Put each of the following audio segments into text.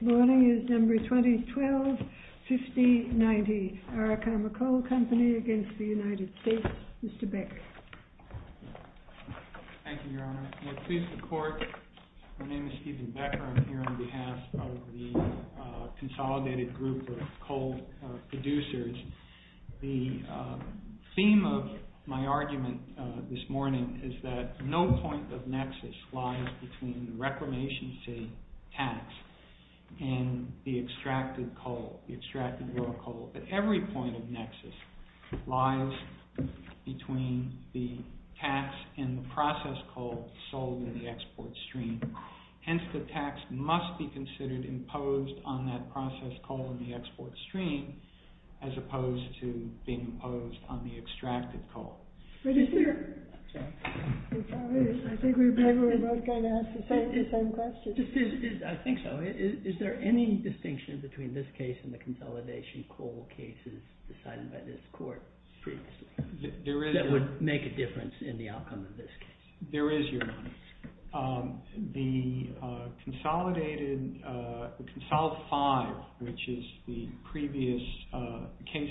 This morning is December 2012, 50-90, Arakama Coal Company against the United States. Mr. Becker. Thank you, Your Honor. May it please the court, my name is Stephen Becker. I'm here on behalf of the consolidated group of coal producers. The theme of my argument this morning is that no point of nexus lies between reclamation efficiency tax and the extracted coal, the extracted raw coal. But every point of nexus lies between the tax and the process coal sold in the export stream. Hence, the tax must be considered imposed on that process coal in the export stream as opposed to being imposed on the extracted coal. Mr. Becker. I'm sorry, I think we both kind of asked the same question. I think so. Is there any distinction between this case and the consolidation coal cases decided by this court previously? There is. That would make a difference in the outcome of this case. There is, Your Honor. The consolidated, the Consolidate 5, which is the previous case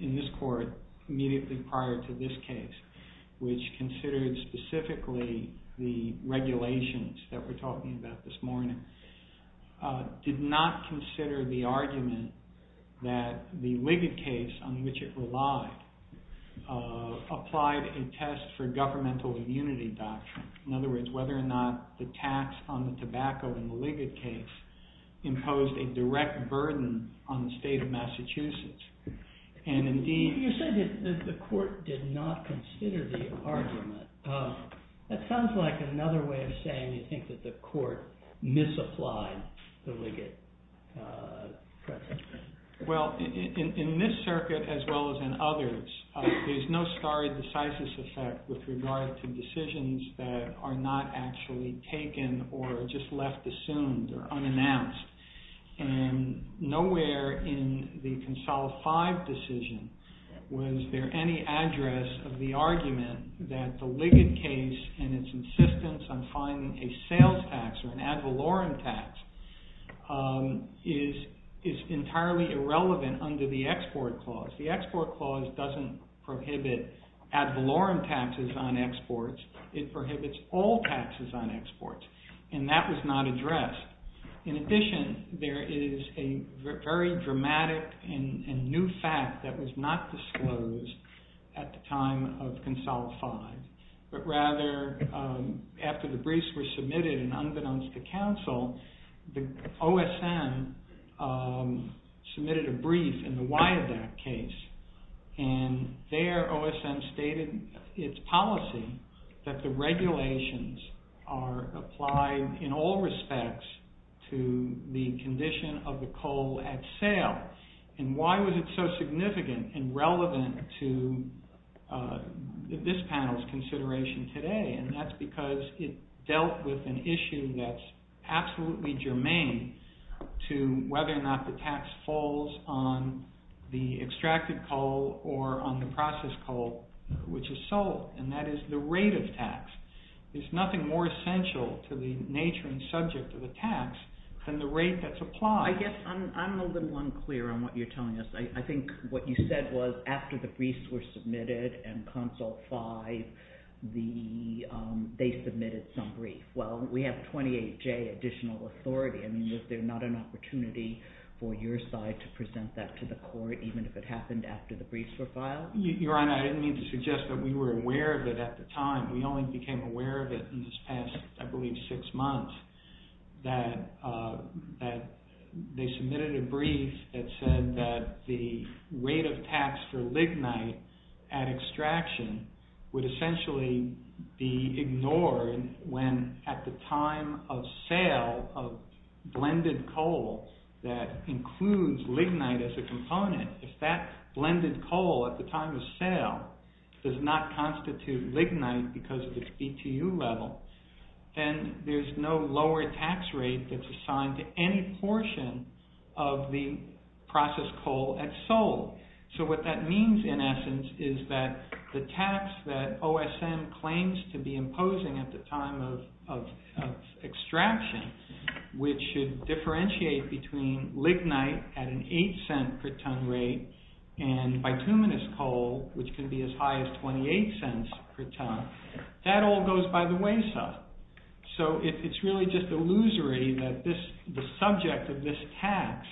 in this court immediately prior to this case, which considered specifically the regulations that we're talking about this morning, did not consider the argument that the Liggett case, on which it relied, applied a test for governmental immunity doctrine. In other words, whether or not the tax on the tobacco in the Liggett case imposed a direct burden on the state of Massachusetts. And indeed, You said that the court did not consider the argument. That sounds like another way of saying you think that the court misapplied the Liggett precedent. Well, in this circuit as well as in others, there's no stare decisis effect with regard to decisions that are not actually taken or just left assumed or unannounced. And nowhere in the Consolidate 5 decision was there any address of the argument that the Liggett case and its insistence on finding a sales tax or an ad valorem tax is entirely irrelevant under the Export Clause. The Export Clause doesn't prohibit ad valorem taxes on exports. It prohibits all taxes on exports. And that was not addressed. In addition, there is a very dramatic and new fact that was not disclosed at the time of Consolidate 5. But rather, after the briefs were submitted and unbeknownst to counsel, the OSM submitted a brief in the Wyod Act case. And there, OSM stated its policy that the regulations are applied in all respects to the condition of the coal at sale. And why was it so significant and relevant to this panel's consideration today? And that's because it dealt with an issue that's absolutely germane to whether or not the tax falls on the extracted coal or on the processed coal, which is salt. And that is the rate of tax. There's nothing more essential to the nature and subject of the tax than the rate that's applied. I guess I'm a little unclear on what you're telling us. I think what you said was after the briefs were submitted and Consol 5, they submitted some brief. Well, we have 28J, additional authority. I mean, was there not an opportunity for your side to present that to the court, even if it happened after the briefs were filed? Your Honor, I didn't mean to suggest that we were aware of it at the time. We only became aware of it in this past, I believe, six months. They submitted a brief that said that the rate of tax for lignite at extraction would essentially be ignored when at the time of sale of blended coal that includes lignite as a component. If that blended coal at the time of sale does not constitute lignite because of its BTU level, then there's no lower tax rate that's assigned to any portion of the processed coal at sold. So what that means in essence is that the tax that OSM claims to be imposing at the time of extraction, which should differentiate between lignite at an $0.08 per ton rate and bituminous coal, which can be as high as $0.28 per ton, that all goes by the wayside. So it's really just illusory that the subject of this tax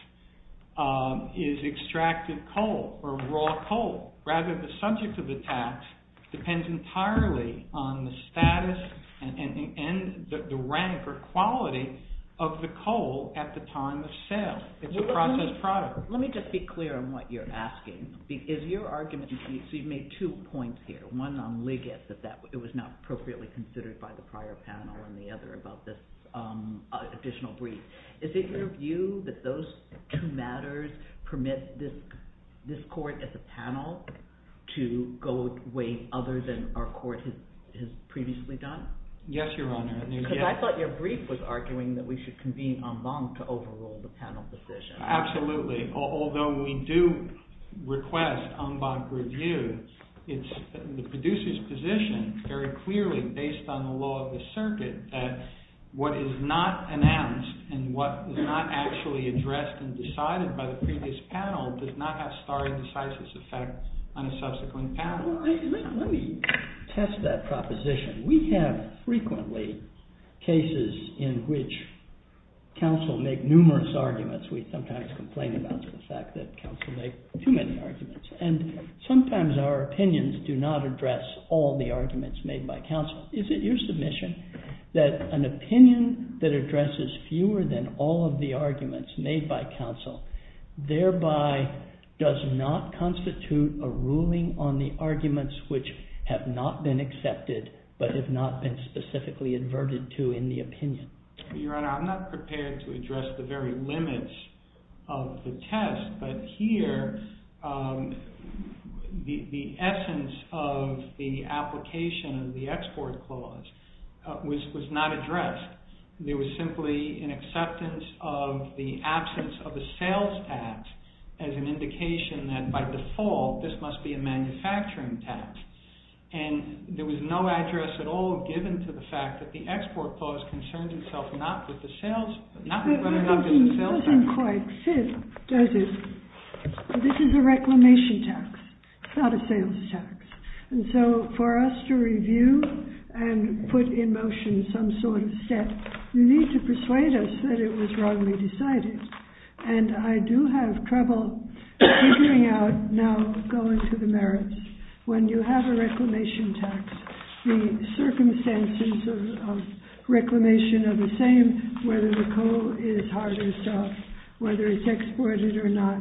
is extracted coal or raw coal, rather the subject of the tax depends entirely on the status and the rank or quality of the coal at the time of sale. It's a processed product. Let me just be clear on what you're asking. Is your argument, so you've made two points here, one on lignite, that it was not appropriately considered by the prior panel and the other about this additional brief, is it your view that those two matters permit this court as a panel to go away other than our court has previously done? Yes, Your Honor. I thought your brief was arguing that we should convene en banc to overrule the panel decision. Absolutely. Although we do request en banc review, it's the producer's position very clearly based on the law of the circuit that what is not announced and what was not actually addressed and decided by the previous panel does not have stare decisis effect on a subsequent panel. Let me test that proposition. We have frequently cases in which counsel make numerous arguments. We sometimes complain about the fact that counsel make too many arguments. Sometimes our opinions do not address all the arguments made by counsel. Is it your submission that an opinion that addresses fewer than all of the arguments made by counsel thereby does not constitute a ruling on the arguments which have not been accepted, but have not been specifically adverted to in the opinion? Your Honor, I'm not prepared to address the very limits of the test, but here, the essence of the application of the export clause was not addressed. There was simply an acceptance of the absence of the sales tax as an indication that by default, this must be a manufacturing tax and there was no address at all given to the fact that the export clause concerns itself not with the sales, not with running up to the sales tax. It doesn't quite fit, does it? This is a reclamation tax, not a sales tax. And so for us to review and put in motion some sort of set, you need to persuade us that it was wrongly decided. And I do have trouble figuring out now going to the merits. When you have a reclamation tax, the circumstances of reclamation are the same, whether the coal is hard or soft, whether it's exported or not.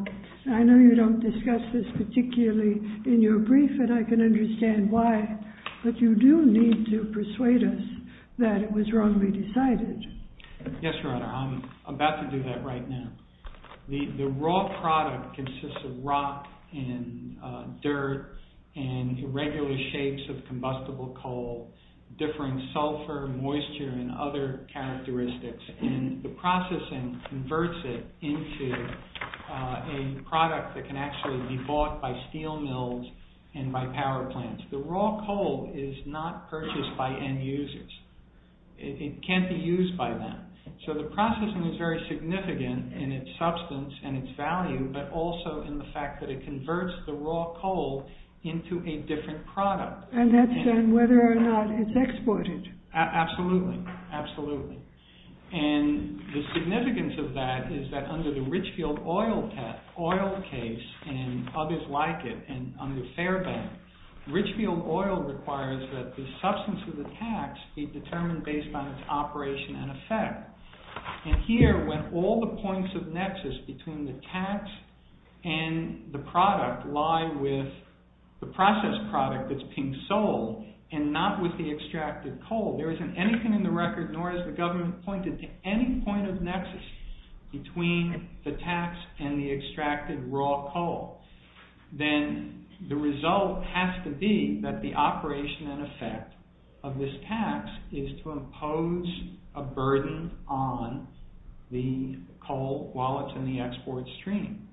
I know you don't discuss this particularly in your brief and I can understand why, but you do need to persuade us that it was wrongly decided. Yes, Your Honor, I'm about to do that right now. The raw product consists of rock and dirt and irregular shapes of combustible coal, differing sulfur, moisture, and other characteristics, and the processing converts it into a product that can actually be bought by steel mills and by power plants. The raw coal is not purchased by end users. It can't be used by them. So the processing is very significant in its substance and its value, but also in the fact that it converts the raw coal into a different product. And that's done whether or not it's exported. Absolutely. Absolutely. And the significance of that is that under the Richfield oil case, and others like it, and under Fairbank, Richfield oil requires that the And here, when all the points of nexus between the tax and the product lie with the processed product that's being sold and not with the extracted coal, there isn't anything in the record, nor has the government pointed to any point of nexus between the tax and the extracted raw coal. Then the result has to be that the operation and effect of this tax is to on the coal wallets and the export stream.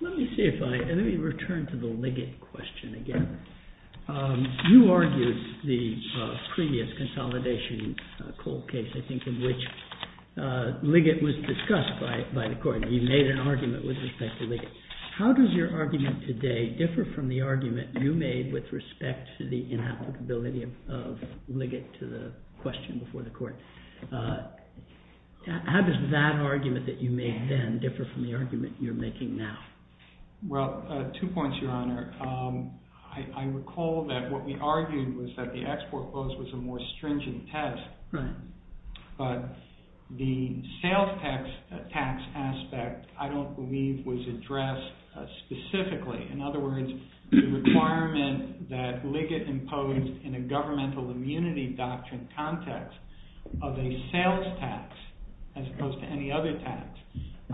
Let me see if I, let me return to the Liggett question again. You argued the previous consolidation coal case, I think, in which Liggett was discussed by the court. You made an argument with respect to Liggett. How does your argument today differ from the argument you made with respect to the inapplicability of Liggett to the question before the court? How does that argument that you made then differ from the argument you're making now? Well, two points, Your Honor. I recall that what we argued was that the export clause was a more stringent test, but the sales tax aspect, I don't believe was addressed specifically. In other words, the requirement that Liggett imposed in a governmental immunity doctrine context of a sales tax, as opposed to any other tax,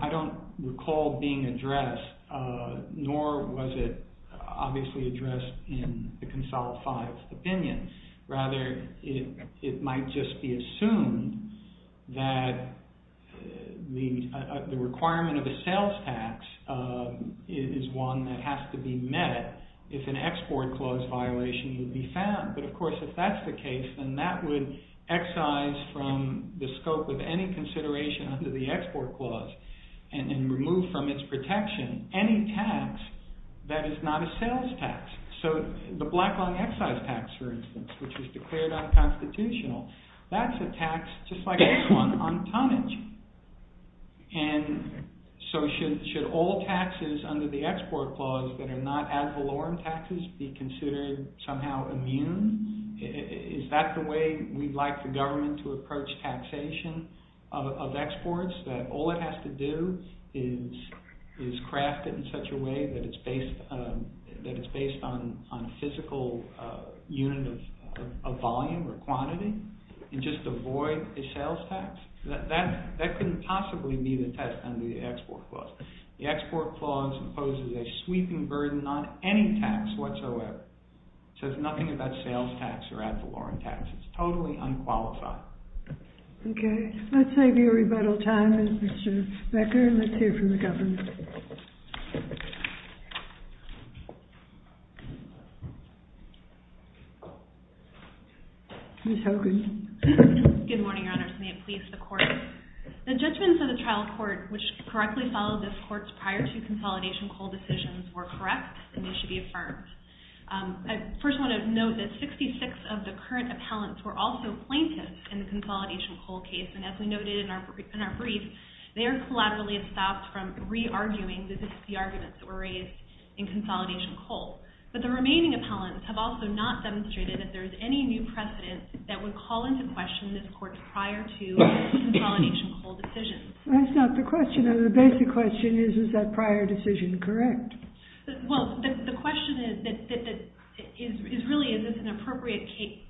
I don't recall being addressed, nor was it obviously addressed in the consolidified opinion, rather it might just be assumed that the requirement of a sales tax is one that has to be met if an export clause violation would be found. But of course, if that's the case, then that would excise from the scope of any consideration under the export clause and remove from its protection any tax that is not a sales tax. So the Black-Long excise tax, for instance, which was declared unconstitutional, that's a tax just like this one on tonnage. And so should all taxes under the export clause that are not ad valorem taxes be considered somehow immune? Is that the way we'd like the government to approach taxation of exports, that all it has to do is craft it in such a way that it's based on a physical unit of volume or quantity and just avoid a sales tax? That couldn't possibly be the test under the export clause. The export clause imposes a sweeping burden on any tax whatsoever. It says nothing about sales tax or ad valorem tax. It's totally unqualified. Okay. Let's save you a rebuttal time, Mr. Becker. Let's hear from the government. Ms. Hogan. Good morning, Your Honors. May it please the Court. The judgments of the trial court, which correctly followed this court's prior to consolidation coal decisions, were correct and they should be affirmed. I first want to note that 66 of the current appellants were also plaintiffs in the consolidation coal case. And as we noted in our brief, they are collaterally stopped from re-arguing that this is the arguments that were raised in consolidation coal. But the remaining appellants have also not demonstrated that there is any new consolidation coal decision. That's not the question. The basic question is, is that prior decision correct? Well, the question is, really, is this an appropriate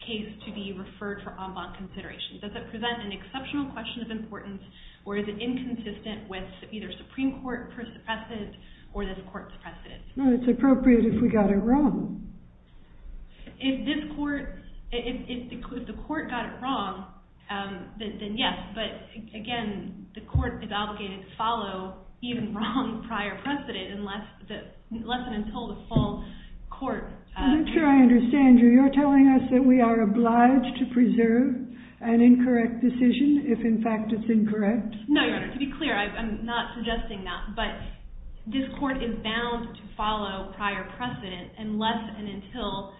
case to be referred for en banc consideration? Does it present an exceptional question of importance, or is it inconsistent with either Supreme Court precedent or this court's precedent? No, it's appropriate if we got it wrong. If the court got it wrong, then yes. But again, the court is obligated to follow even wrong prior precedent, unless and until the full court... I'm not sure I understand you. You're telling us that we are obliged to preserve an incorrect decision if, in fact, it's incorrect? No, to be clear, I'm not suggesting that. But this court is bound to follow prior precedent unless and until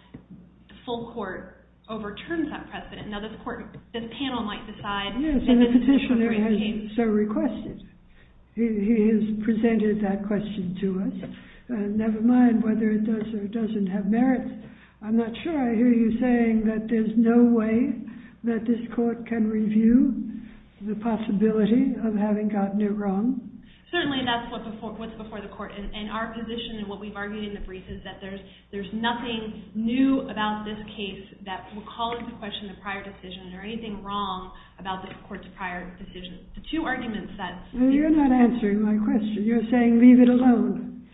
the full court overturns that precedent. Now, this panel might decide... Yes, and the petitioner has so requested. He has presented that question to us, never mind whether it does or doesn't have merit. I'm not sure I hear you saying that there's no way that this court can review the possibility of having gotten it wrong. Certainly, that's what's before the court. And our position and what we've argued in the brief is that there's nothing new about this case that will call into question the prior decision, or anything wrong about the court's prior decision. The two arguments that... Well, you're not answering my question. You're saying leave it alone.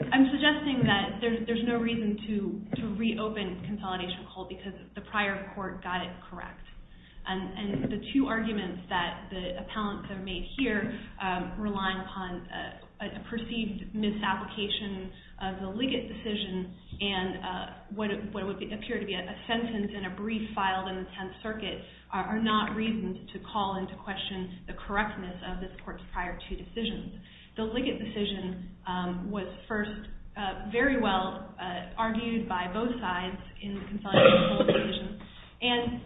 I'm suggesting that there's no reason to reopen consolidation court because the prior court got it correct. And the two arguments that the appellants have made here rely upon a perceived misapplication of the Liggett decision and what would appear to be a sentence in a brief filed in the Tenth Circuit are not reasons to call into question the correctness of this court's prior two decisions. The Liggett decision was first very well argued by both sides in the consolidation court decision. And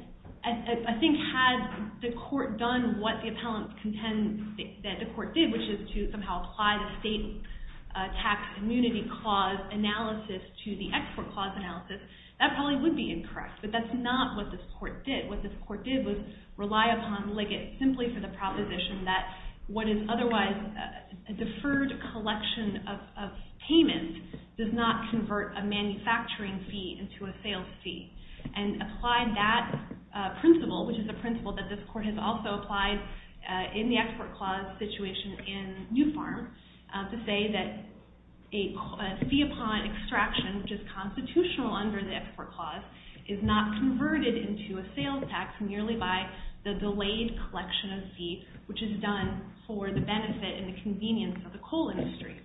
I think had the court done what the appellant contends that the tax immunity clause analysis to the export clause analysis, that probably would be incorrect. But that's not what this court did. What this court did was rely upon Liggett simply for the proposition that what is otherwise a deferred collection of payments does not convert a manufacturing fee into a sales fee and applied that principle, which is a principle that this court has also applied in the export clause situation in New Farm to say that a fee upon extraction, which is constitutional under the export clause, is not converted into a sales tax merely by the delayed collection of fee, which is done for the benefit and the convenience of the coal industry.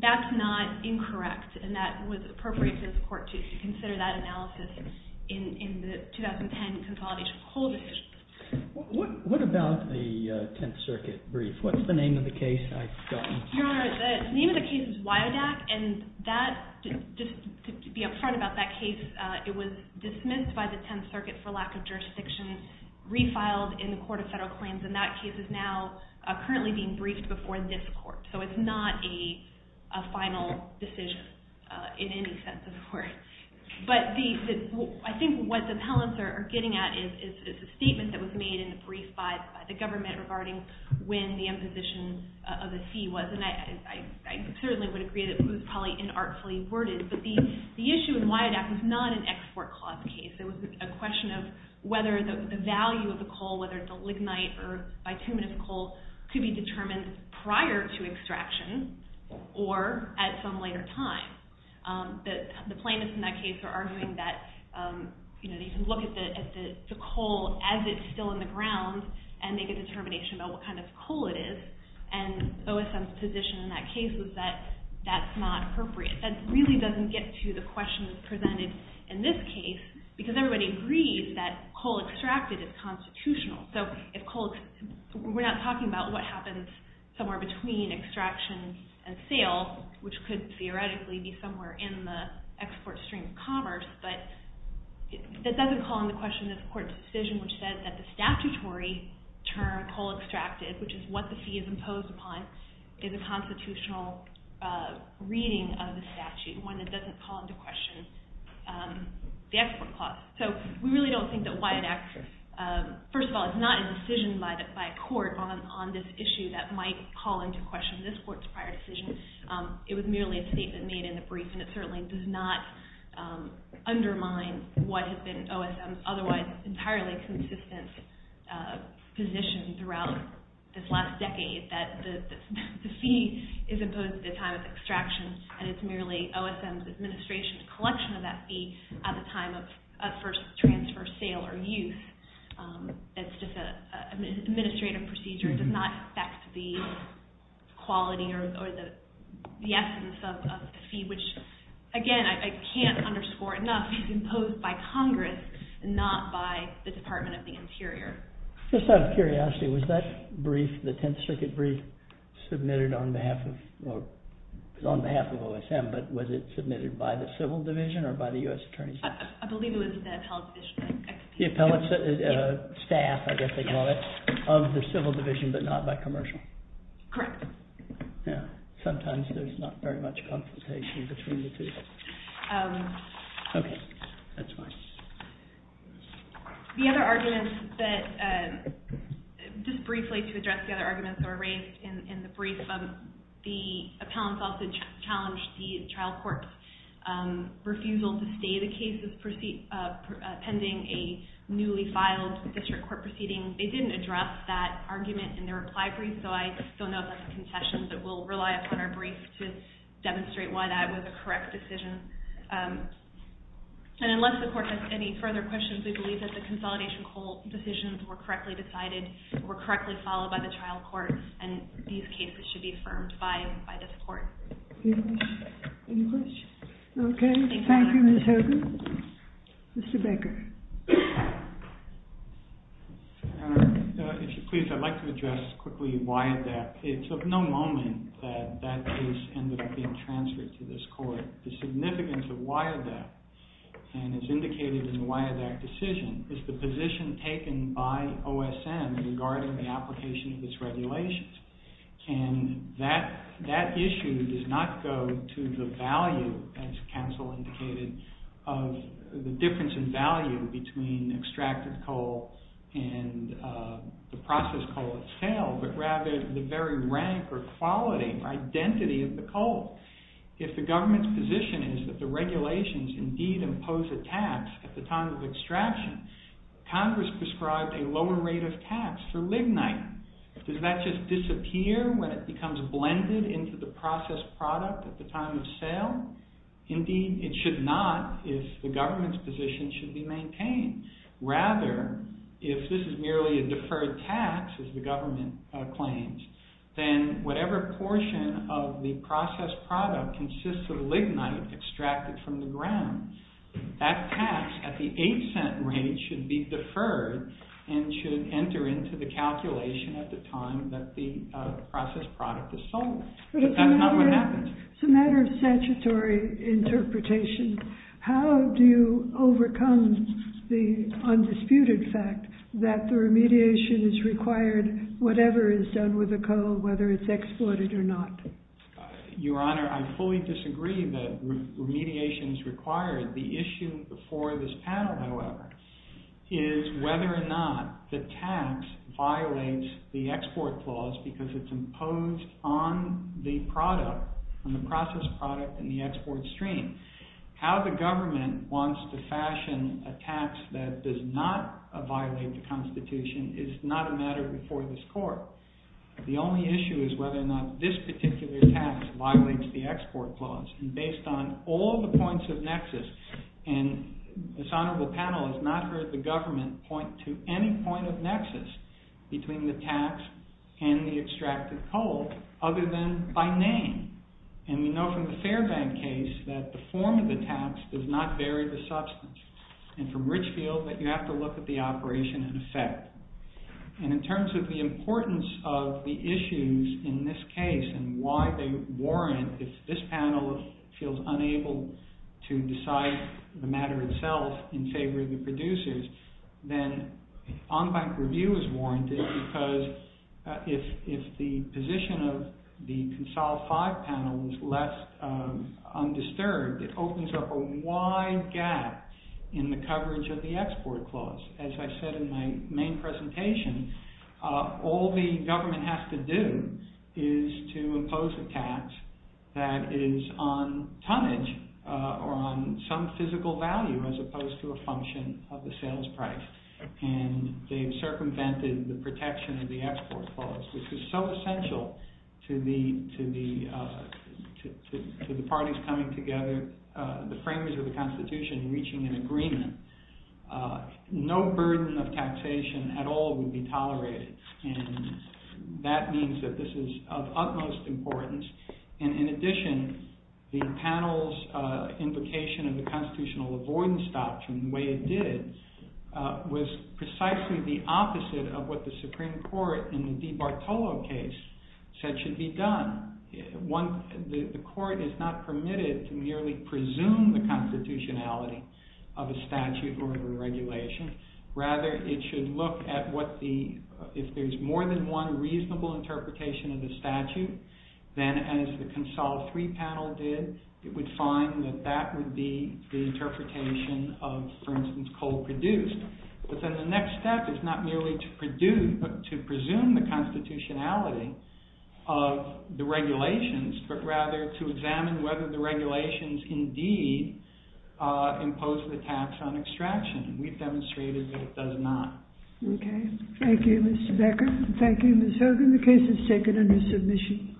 That's not incorrect, and that was appropriate for this court to consider that What about the Tenth Circuit brief? What's the name of the case? Your Honor, the name of the case is Wiodak, and just to be upfront about that case, it was dismissed by the Tenth Circuit for lack of jurisdiction, refiled in the Court of Federal Claims, and that case is now currently being briefed before this court. So it's not a final decision in any sense of the word. But I think what the appellants are getting at is a statement that was made in the brief by the government regarding when the imposition of the fee was, and I certainly would agree that it was probably inartfully worded. But the issue in Wiodak was not an export clause case. It was a question of whether the value of the coal, whether it's a lignite or bituminous coal, could be determined prior to extraction or at some later time. The plaintiffs in that case are arguing that you can look at the coal as it's still in the ground and make a determination about what kind of coal it is, and OSM's position in that case is that that's not appropriate. That really doesn't get to the question presented in this case because everybody agrees that coal extracted is constitutional. So we're not talking about what happens somewhere between extraction and sale, which could theoretically be somewhere in the export stream of commerce, but that doesn't call into question this court's decision which says that the statutory term coal extracted, which is what the fee is imposed upon, is a constitutional reading of the statute, one that doesn't call into question the export clause. So we really don't think that Wiodak, first of all, is not a decision by a court on this issue that might call into question this court's prior decision. It was merely a statement made in the brief, and it certainly does not undermine what has been OSM's otherwise entirely consistent position throughout this last decade, that the fee is imposed at the time of extraction, and it's merely OSM's administration's collection of that fee at the time of first transfer, sale, or use. It's just an administrative procedure. It does not affect the quality or the essence of the fee, which, again, I can't underscore enough, is imposed by Congress and not by the Department of the Interior. Just out of curiosity, was that brief, the Tenth Circuit brief, submitted on behalf of OSM, but was it submitted by the Civil Division or by the U.S. Attorney's Office? I believe it was the Appellate Division. The Appellate Staff, I guess they call it, of the Civil Division, but not by Commercial. Correct. Yeah. Sometimes there's not very much confrontation between the two. Okay. That's fine. The other arguments that, just briefly to address the other arguments that were raised in the brief, the Appellant's Office challenged the child court's refusal to stay the cases pending a newly filed district court proceeding. They didn't address that argument in their reply brief, so I don't know if that's a concession, but we'll rely upon our brief to demonstrate why that was a correct decision. And unless the Court has any further questions, we believe that the consolidation whole decisions were correctly decided, were correctly followed by the child court, and these cases should be affirmed by this Court. Any questions? Okay. Thank you, Ms. Hogan. Mr. Baker. If you please, I'd like to address quickly WIADAC. It's of no moment that that case ended up being transferred to this Court. The significance of WIADAC, and it's indicated in the WIADAC decision, is the position taken by OSM regarding the application of its regulations. And that issue does not go to the value, as counsel indicated, of the difference in value between extracted coal and the processed coal itself, but rather the very rank or quality or identity of the coal. If the government's position is that the regulations indeed impose a tax at the time of extraction, Congress prescribed a lower rate of tax for lignite. Does that just disappear when it becomes blended into the processed product at the time of sale? Indeed, it should not if the government's position should be maintained. Rather, if this is merely a deferred tax, as the government claims, then whatever portion of the processed product consists of lignite extracted from the ground, that tax at the rate should be deferred and should enter into the calculation at the time that the processed product is sold. But if that's not what happens. It's a matter of statutory interpretation. How do you overcome the undisputed fact that the remediation is required whatever is done with the coal, whether it's exploited or not? Your Honor, I fully disagree that remediation is required. The issue before this panel, however, is whether or not the tax violates the export clause because it's imposed on the product, on the processed product and the export stream. How the government wants to fashion a tax that does not violate the Constitution is not a matter before this court. The only issue is whether or not this particular tax violates the export clause. Based on all the points of nexus, and this honorable panel has not heard the government point to any point of nexus between the tax and the extracted coal, other than by name. And we know from the Fairbank case that the form of the tax does not vary the substance. And from Richfield, that you have to look at the operation in effect. And in terms of the importance of the issues in this case and why they warrant, if this panel feels unable to decide the matter itself in favor of the producers, then on-bank review is warranted because if the position of the Consolidate Five panel is less undisturbed, it opens up a wide gap in the coverage of the export clause. As I said in my main presentation, all the government has to do is to impose a tax that is on tonnage or on some physical value as opposed to a function of the sales price. And they've circumvented the protection of the export clause, which is so essential to the parties coming together, the framers of the Constitution reaching an agreement. No burden of taxation at all would be tolerated. And that means that this is of utmost importance. And in addition, the panel's invocation of the Constitutional Avoidance Doctrine, the way it did, was precisely the opposite of what the Supreme Court in the DiBartolo case said should be done. The court is not permitted to merely presume the constitutionality of a statute or a regulation. Rather, it should look at what the, if there's more than one reasonable interpretation of the statute, then as the Consolidate III panel did, it would find that that would be the interpretation of, for instance, coal produced. But then the next step is not merely to presume the constitutionality of the regulations, but rather to examine whether the regulations indeed impose the tax on extraction. We've demonstrated that it does not. Okay, thank you, Ms. Becker. Thank you, Ms. Hogan. The case is taken under submission.